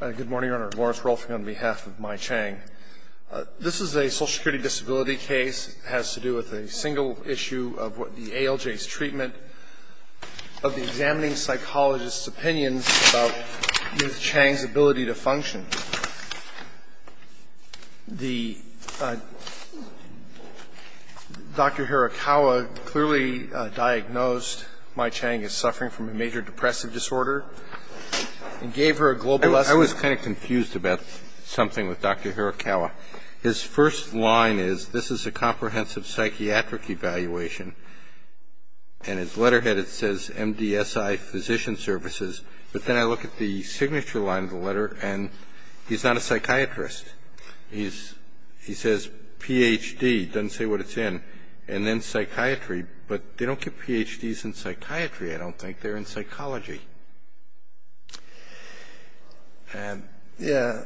Good morning, Your Honor. Lawrence Rolfing on behalf of Mai Chang. This is a social security disability case. It has to do with a single issue of the ALJ's treatment of the examining psychologist's opinions about Ms. Chang's ability to function. The Dr. Hirakawa clearly diagnosed Mai Chang as suffering from a major depressive disorder and gave her a global lesson. I was kind of confused about something with Dr. Hirakawa. His first line is, this is a comprehensive psychiatric evaluation. And his letterhead, it says MDSI Physician Services. But then I look at the signature line of the letter, and he's not a psychiatrist. He says Ph.D., doesn't say what it's in, and then psychiatry. But they don't give Ph.D.s in psychiatry, I don't think. They're in psychology.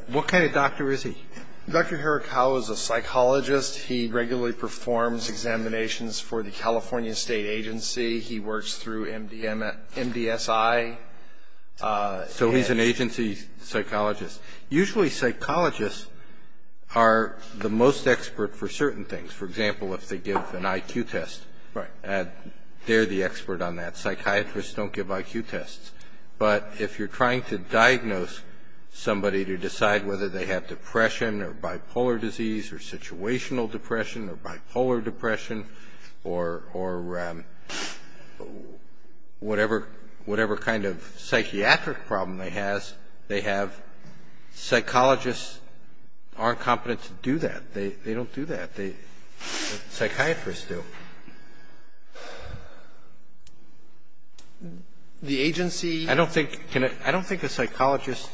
What kind of doctor is he? Dr. Hirakawa is a psychologist. He regularly performs examinations for the California State Agency. He works through MDSI. So he's an agency psychologist. Usually psychologists are the most expert for certain things. For example, if they give an IQ test. Right. They're the expert on that. Psychiatrists don't give IQ tests. But if you're trying to diagnose somebody to decide whether they have depression, or bipolar disease, or situational depression, or bipolar depression, or whatever kind of psychiatric problem they have, psychologists aren't competent to do that. They don't do that. Psychiatrists do. The agency can't. I don't think a psychologist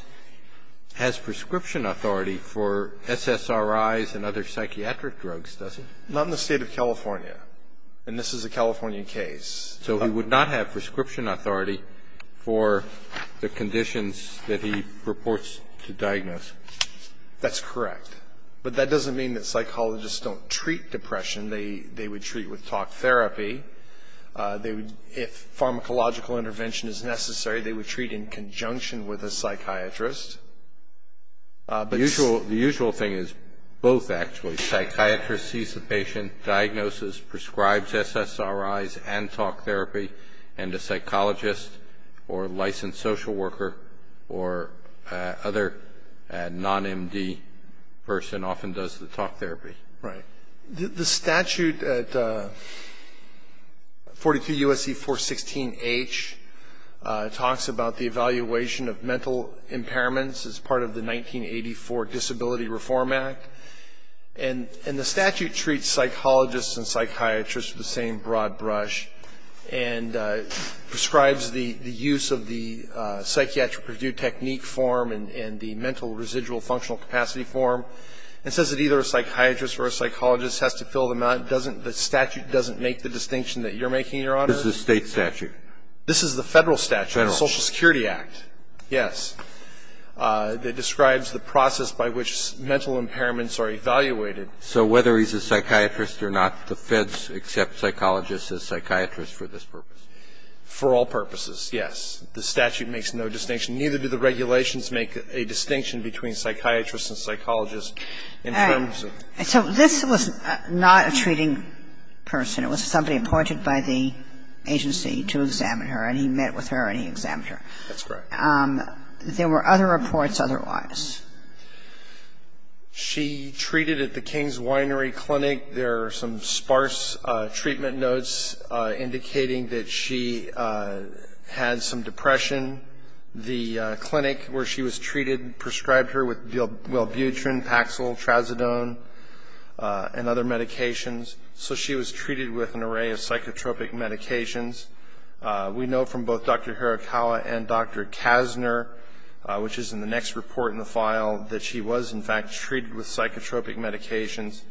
has prescription authority for SSRIs and other psychiatric drugs, does he? Not in the State of California. And this is a California case. So he would not have prescription authority for the conditions that he purports to diagnose. That's correct. But that doesn't mean that psychologists don't treat depression. They would treat with talk therapy. If pharmacological intervention is necessary, they would treat in conjunction with a psychiatrist. The usual thing is both, actually. Psychiatrist sees the patient, diagnoses, prescribes SSRIs and talk therapy, and a psychologist or licensed social worker or other non-MD person often does the talk therapy. Right. The statute at 42 U.S.C. 416-H talks about the evaluation of mental impairments as part of the 1984 Disability Reform Act. And the statute treats psychologists and psychiatrists with the same broad brush and prescribes the use of the psychiatric review technique form and the mental residual functional capacity form and says that either a psychiatrist or a psychologist has to fill them out. Doesn't the statute make the distinction that you're making, Your Honor? This is the State statute. This is the Federal statute. Federal. Social Security Act. Yes. It describes the process by which mental impairments are evaluated. So whether he's a psychiatrist or not, the Feds accept psychologists as psychiatrists for this purpose. For all purposes, yes. The statute makes no distinction. Neither do the regulations make a distinction between psychiatrists and psychologists in terms of... All right. So this was not a treating person. It was somebody appointed by the agency to examine her, and he met with her and he examined her. That's correct. There were other reports otherwise. She treated at the King's Winery Clinic. There are some sparse treatment notes indicating that she had some depression. The clinic where she was treated prescribed her with bilbutrin, Paxil, Trazodone, and other medications. So she was treated with an array of psychotropic medications. We know from both Dr. Hirakawa and Dr. Kasner, which is in the next report in the file, that she was, in fact, treated with psychotropic medications.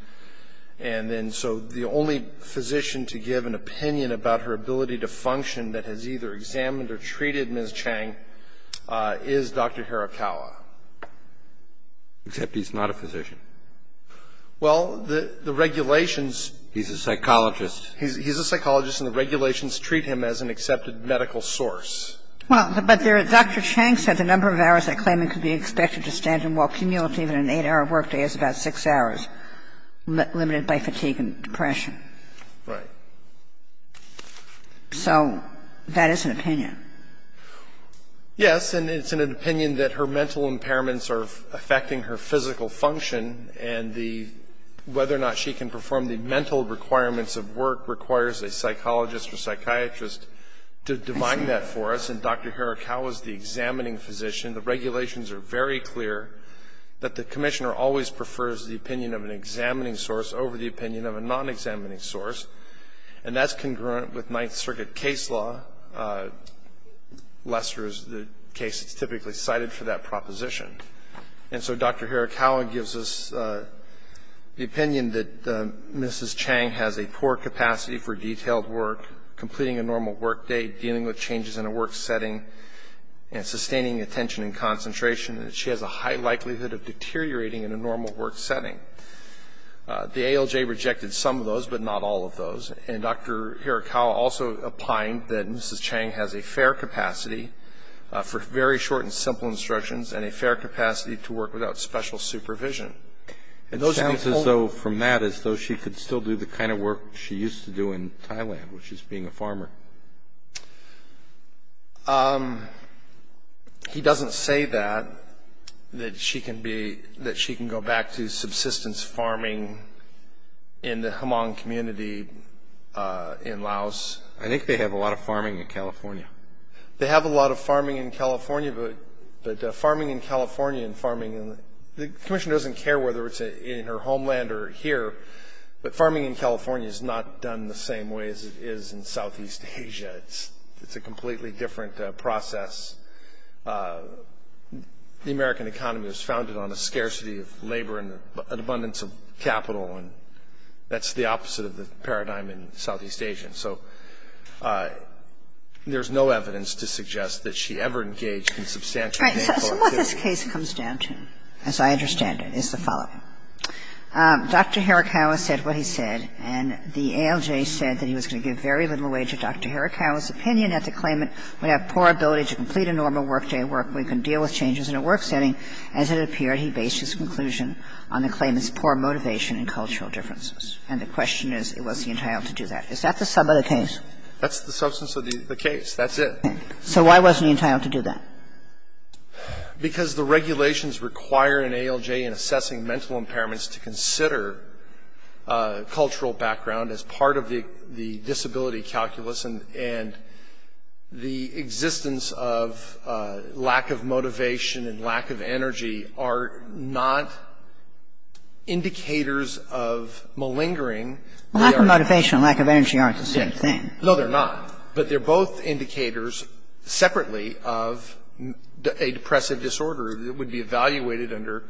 And then so the only physician to give an opinion about her ability to function that has either examined or treated Ms. Chang is Dr. Hirakawa. Except he's not a physician. Well, the regulations... He's a psychologist. He's a psychologist, and the regulations treat him as an accepted medical source. Well, but Dr. Chang said the number of hours that claimant could be expected to stand and walk, cumulative in an 8-hour workday, is about 6 hours, limited by fatigue and depression. Right. So that is an opinion. Yes, and it's an opinion that her mental impairments are affecting her physical function, and whether or not she can perform the mental requirements of work requires a psychologist or psychiatrist to define that for us. And Dr. Hirakawa is the examining physician. The regulations are very clear that the commissioner always prefers the opinion of an examining source over the opinion of a non-examining source. And that's congruent with Ninth Circuit case law. Lester is the case that's typically cited for that proposition. And so Dr. Hirakawa gives us the opinion that Mrs. Chang has a poor capacity for detailed work, completing a normal workday, dealing with changes in a work setting, and sustaining attention and concentration, and that she has a high likelihood of deteriorating in a normal work setting. The ALJ rejected some of those, but not all of those. And Dr. Hirakawa also opined that Mrs. Chang has a fair capacity for very short and simple instructions and a fair capacity to work without special supervision. It sounds as though from that as though she could still do the kind of work she used to do in Thailand, which is being a farmer. He doesn't say that, that she can go back to subsistence farming in the Hmong community in Laos. I think they have a lot of farming in California. They have a lot of farming in California, but farming in California and farming in the Commission doesn't care whether it's in her homeland or here, but farming in California is not done the same way as it is in Southeast Asia. It's a completely different process. The American economy was founded on a scarcity of labor and an abundance of capital, and that's the opposite of the paradigm in Southeast Asia. And so there's no evidence to suggest that she ever engaged in substantial labor activity. Kagan. So what this case comes down to, as I understand it, is the following. Dr. Hirakawa said what he said, and the ALJ said that he was going to give very little weight to Dr. Hirakawa's opinion at the claimant would have poor ability to complete a normal workday work where he can deal with changes in a work setting. As it appeared, he based his conclusion on the claimant's poor motivation and cultural differences. And the question is, was he entitled to do that? Is that the case? That's the substance of the case. That's it. So why was he entitled to do that? Because the regulations require an ALJ in assessing mental impairments to consider cultural background as part of the disability calculus, and the existence of lack of motivation and lack of energy aren't the same thing. No, they're not. But they're both indicators separately of a depressive disorder that would be evaluated under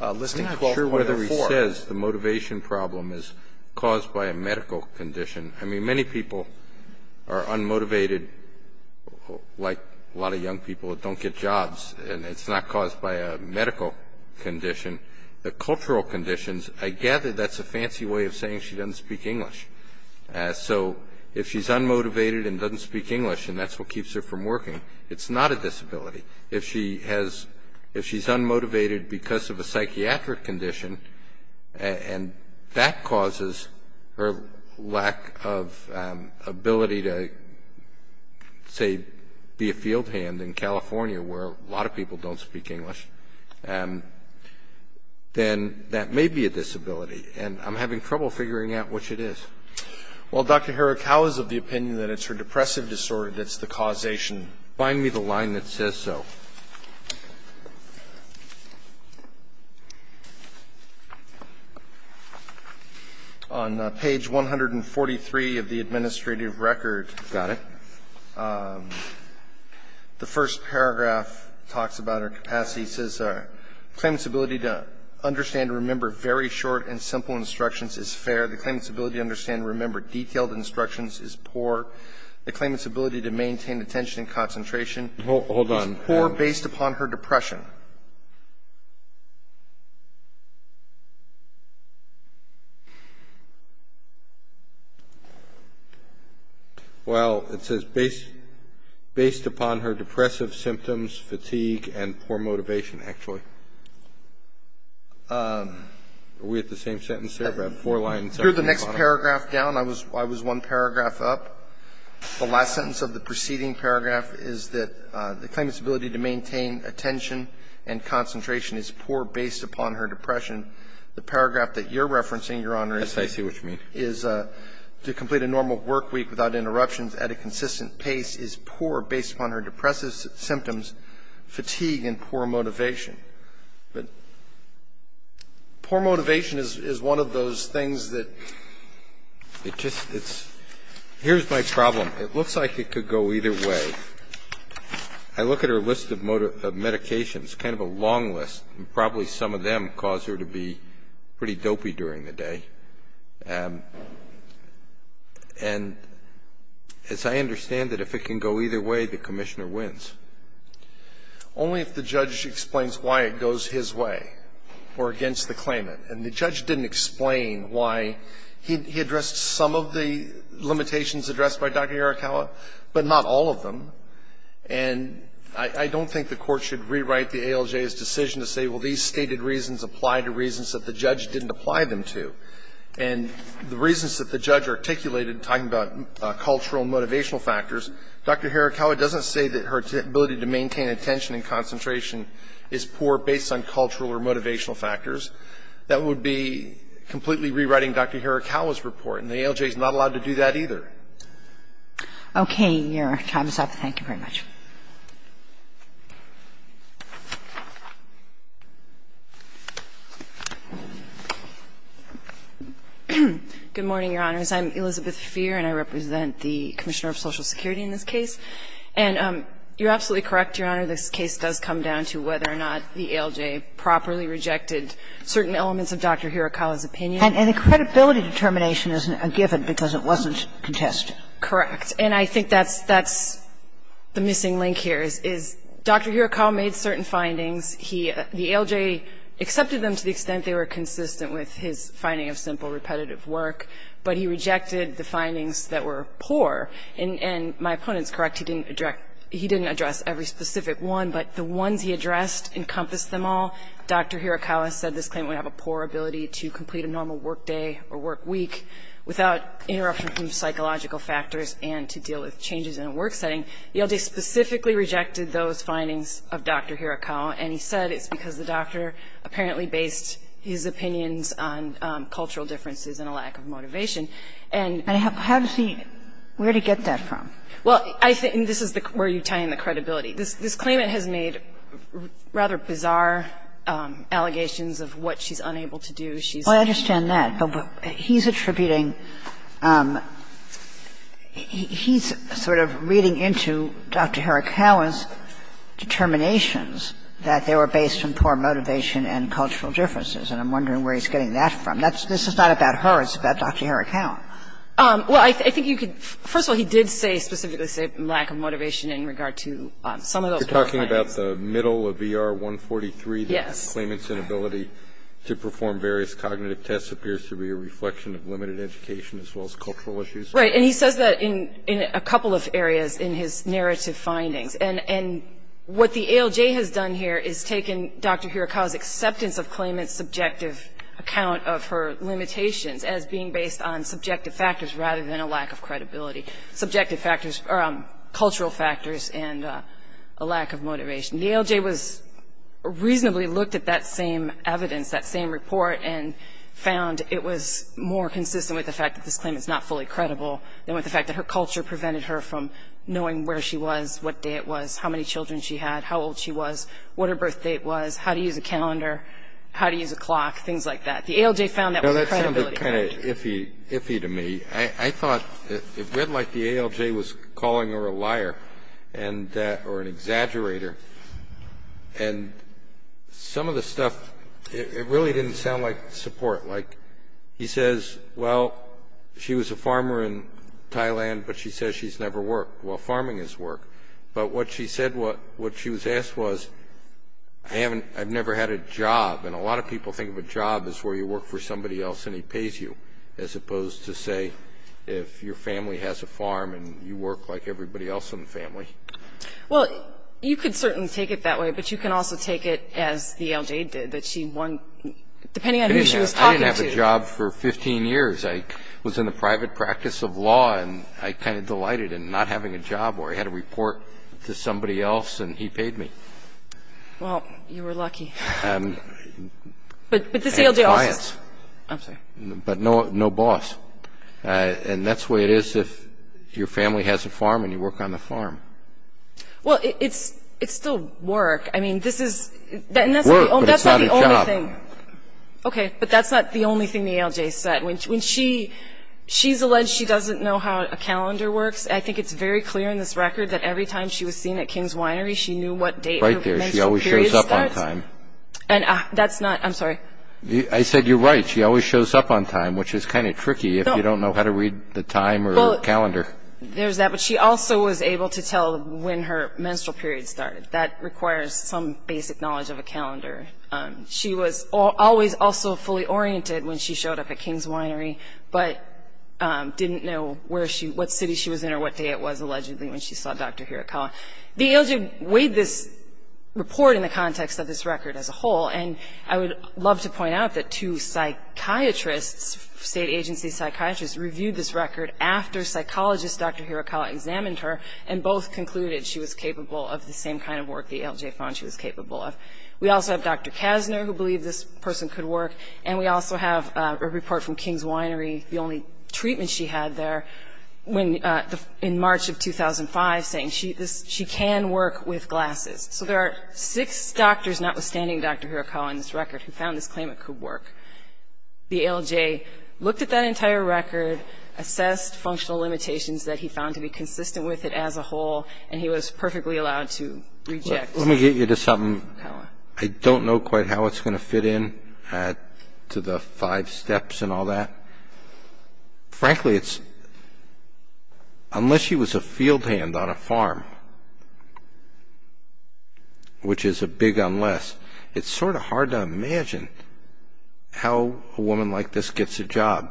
Listing 12.4. I'm not sure whether he says the motivation problem is caused by a medical condition. I mean, many people are unmotivated, like a lot of young people that don't get jobs, and it's not caused by a medical condition. The cultural conditions, I gather that's a fancy way of saying she doesn't speak English. So if she's unmotivated and doesn't speak English, and that's what keeps her from working, it's not a disability. If she's unmotivated because of a psychiatric condition, and that causes her lack of ability to, say, be a field hand in California where a lot of people don't speak English. Then that may be a disability, and I'm having trouble figuring out which it is. Well, Dr. Herrick, how is it the opinion that it's her depressive disorder that's the causation? Find me the line that says so. On page 143 of the administrative record. Got it. The first paragraph talks about her capacity. It says claimant's ability to understand and remember very short and simple instructions is fair. The claimant's ability to understand and remember detailed instructions is poor. The claimant's ability to maintain attention and concentration is poor based upon her depression. Well, it says based upon her depressive symptoms, fatigue, and poor motivation, actually. Are we at the same sentence there? I have four lines. Here's the next paragraph down. I was one paragraph up. The last sentence of the preceding paragraph is that the claimant's ability to maintain attention and concentration is poor based upon her depression. The paragraph that you're referencing, Your Honor, is to complete a normal work week without interruptions at a consistent pace is poor based upon her depressive symptoms, fatigue, and poor motivation. But poor motivation is one of those things that it just, it's, here's my problem. It looks like it could go either way. I look at her list of medications, kind of a long list, and probably some of them cause her to be pretty dopey during the day. And as I understand it, if it can go either way, the commissioner wins. Only if the judge explains why it goes his way or against the claimant. And the judge didn't explain why. He addressed some of the limitations addressed by Dr. Harakawa, but not all of them. And I don't think the Court should rewrite the ALJ's decision to say, well, these stated reasons apply to reasons that the judge didn't apply them to. And the reasons that the judge articulated, talking about cultural and motivational factors, Dr. Harakawa doesn't say that her ability to maintain attention and concentration is poor based on cultural or motivational factors. That would be completely rewriting Dr. Harakawa's report, and the ALJ is not allowed to do that either. Okay. Your time is up. Thank you very much. Good morning, Your Honors. I'm Elizabeth Feer, and I represent the Commissioner of Social Security in this case. And you're absolutely correct, Your Honor, this case does come down to whether or not the ALJ properly rejected certain elements of Dr. Harakawa's opinion. And the credibility determination isn't a given because it wasn't contested. Correct. And I think that's the missing link here, is Dr. Harakawa made certain findings. The ALJ accepted them to the extent they were consistent with his finding of simple, repetitive work, but he rejected the findings that were poor. And my opponent's correct. He didn't address every specific one, but the ones he addressed encompassed them all. Dr. Harakawa said this claim would have a poor ability to complete a normal work day or work week without interruption from psychological factors and to deal with changes in a work setting. The ALJ specifically rejected those findings of Dr. Harakawa, and he said it's because the doctor apparently based his opinions on cultural differences and a lack of motivation. And how does he – where did he get that from? Well, I think – and this is where you tie in the credibility. This claimant has made rather bizarre allegations of what she's unable to do. Well, I understand that, but he's attributing – he's sort of reading into Dr. Harakawa's determinations that they were based on poor motivation and cultural differences, and I'm wondering where he's getting that from. That's – this is not about her. It's about Dr. Harakawa. Well, I think you could – first of all, he did say – specifically say lack of motivation in regard to some of those poor findings. You're talking about the middle of ER 143? Yes. The claimant's inability to perform various cognitive tests appears to be a reflection of limited education as well as cultural issues? Right. And he says that in a couple of areas in his narrative findings. And what the ALJ has done here is taken Dr. Harakawa's acceptance of claimant's subjective account of her limitations as being based on subjective factors rather than a lack of credibility – subjective factors – cultural factors and a lack of motivation. The ALJ was – reasonably looked at that same evidence, that same report, and found it was more consistent with the fact that this claimant's not fully credible than with the fact that her culture prevented her from knowing where she was, what day it was, how many children she had, how old she was, what her birth date was, how to use a calendar, how to use a clock, things like that. The ALJ found that was credibility. Now, that sounded kind of iffy – iffy to me. I thought it read like the ALJ was calling her a liar and – or an exaggerator. And some of the stuff – it really didn't sound like support. Like, he says, well, she was a farmer in Thailand, but she says she's never worked. Well, farming is work. But what she said – what she was asked was, I haven't – I've never had a job. And a lot of people think of a job as where you work for somebody else and he pays you, as opposed to, say, if your family has a farm and you work like everybody else in the family. Well, you could certainly take it that way, but you can also take it as the ALJ did, that she won – depending on who she was talking to. I didn't have a job for 15 years. I was in the private practice of law and I kind of delighted in not having a job where I had to report to somebody else and he paid me. Well, you were lucky. But the ALJ also – And clients. I'm sorry. But no boss. And that's the way it is if your family has a farm and you work on the farm. Well, it's still work. I mean, this is – But it's not a job. Oh, that's not the only thing. Okay, but that's not the only thing the ALJ said. When she – she's alleged she doesn't know how a calendar works. I think it's very clear in this record that every time she was seen at King's Winery, she knew what date her menstrual period starts. Right there. She always shows up on time. And that's not – I'm sorry. I said you're right. She always shows up on time, which is kind of tricky if you don't know how to read the time or calendar. There's that, but she also was able to tell when her menstrual period started. That requires some basic knowledge of a calendar. She was always also fully oriented when she showed up at King's Winery, but didn't know where she – what city she was in or what day it was allegedly when she saw Dr. Hirakawa. The ALJ weighed this report in the context of this record as a whole, and I would love to point out that two psychiatrists, state agency psychiatrists, reviewed this record after psychologist Dr. Hirakawa examined her and both concluded she was capable of the same kind of work the ALJ found she was capable of. We also have Dr. Kasner who believed this person could work, and we also have a report from King's Winery, the only treatment she had there, in March of 2005 saying she can work with glasses. So there are six doctors, notwithstanding Dr. Hirakawa in this record, who found this claim it could work. The ALJ looked at that entire record, assessed functional limitations that he found to be consistent with it as a whole, and he was perfectly allowed to reject Dr. Hirakawa. Let me get you to something. I don't know quite how it's going to fit in to the five steps and all that. Frankly, unless she was a field hand on a farm, which is a big unless, it's sort of hard to imagine how a woman like this gets a job.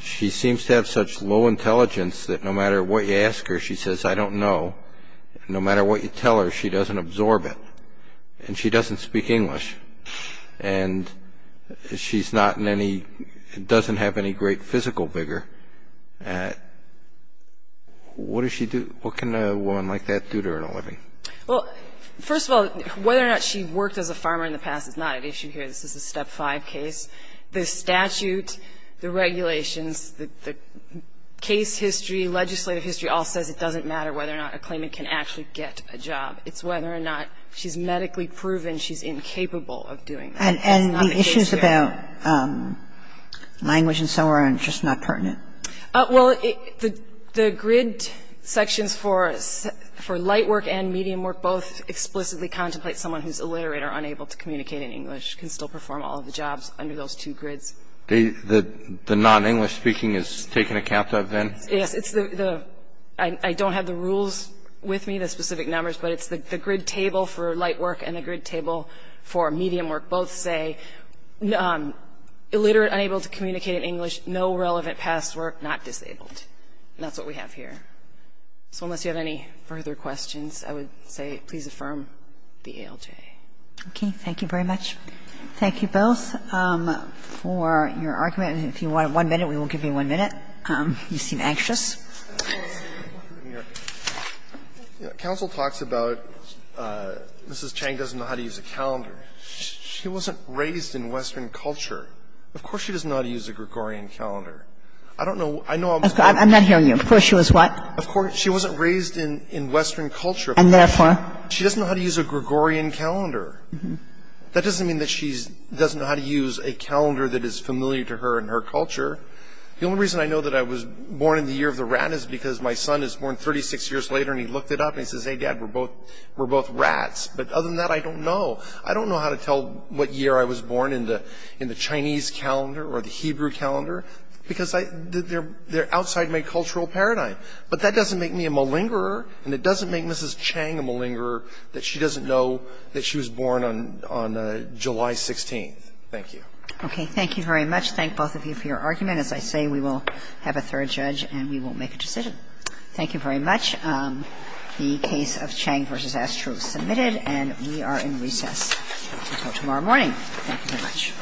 She seems to have such low intelligence that no matter what you ask her, she says, I don't know, and no matter what you tell her, she doesn't absorb it, and she doesn't speak English, and she doesn't have any great physical vigor. What can a woman like that do to earn a living? Well, first of all, whether or not she worked as a farmer in the past is not at issue here. This is a step five case. The statute, the regulations, the case history, legislative history all says it doesn't matter whether or not a claimant can actually get a job. It's whether or not she's medically proven she's incapable of doing that. It's not a case here. And the issues about language and so on are just not pertinent? Well, the grid sections for light work and medium work both explicitly contemplate someone who's illiterate or unable to communicate in English, can still perform all of the jobs under those two grids. The non-English speaking is taken account of then? Yes. I don't have the rules with me, the specific numbers, but it's the grid table for light work and the grid table for medium work both say illiterate, unable to communicate in English, no relevant past work, not disabled. And that's what we have here. So unless you have any further questions, I would say please affirm the ALJ. Okay. Thank you very much. Thank you both for your argument. If you want one minute, we will give you one minute. You seem anxious. Counsel talks about Mrs. Chang doesn't know how to use a calendar. She wasn't raised in Western culture. Of course she doesn't know how to use a Gregorian calendar. I don't know. I'm not hearing you. Of course she was what? Of course she wasn't raised in Western culture. And therefore? She doesn't know how to use a Gregorian calendar. That doesn't mean that she doesn't know how to use a calendar that is familiar to her and her culture. The only reason I know that I was born in the year of the rat is because my son is born 36 years later and he looked it up and he says, Hey, Dad, we're both rats. But other than that, I don't know. I don't know how to tell what year I was born in the Chinese calendar or the Hebrew calendar because they're outside my cultural paradigm. But that doesn't make me a malingerer and it doesn't make Mrs. Chang a malingerer that she doesn't know that she was born on July 16th. Thank you. Okay. Thank you very much. Thank both of you for your argument. As I say, we will have a third judge and we will make a decision. Thank you very much. The case of Chang v. Astro is submitted and we are in recess until tomorrow morning. Thank you very much. Thank you very much. Thank you very much.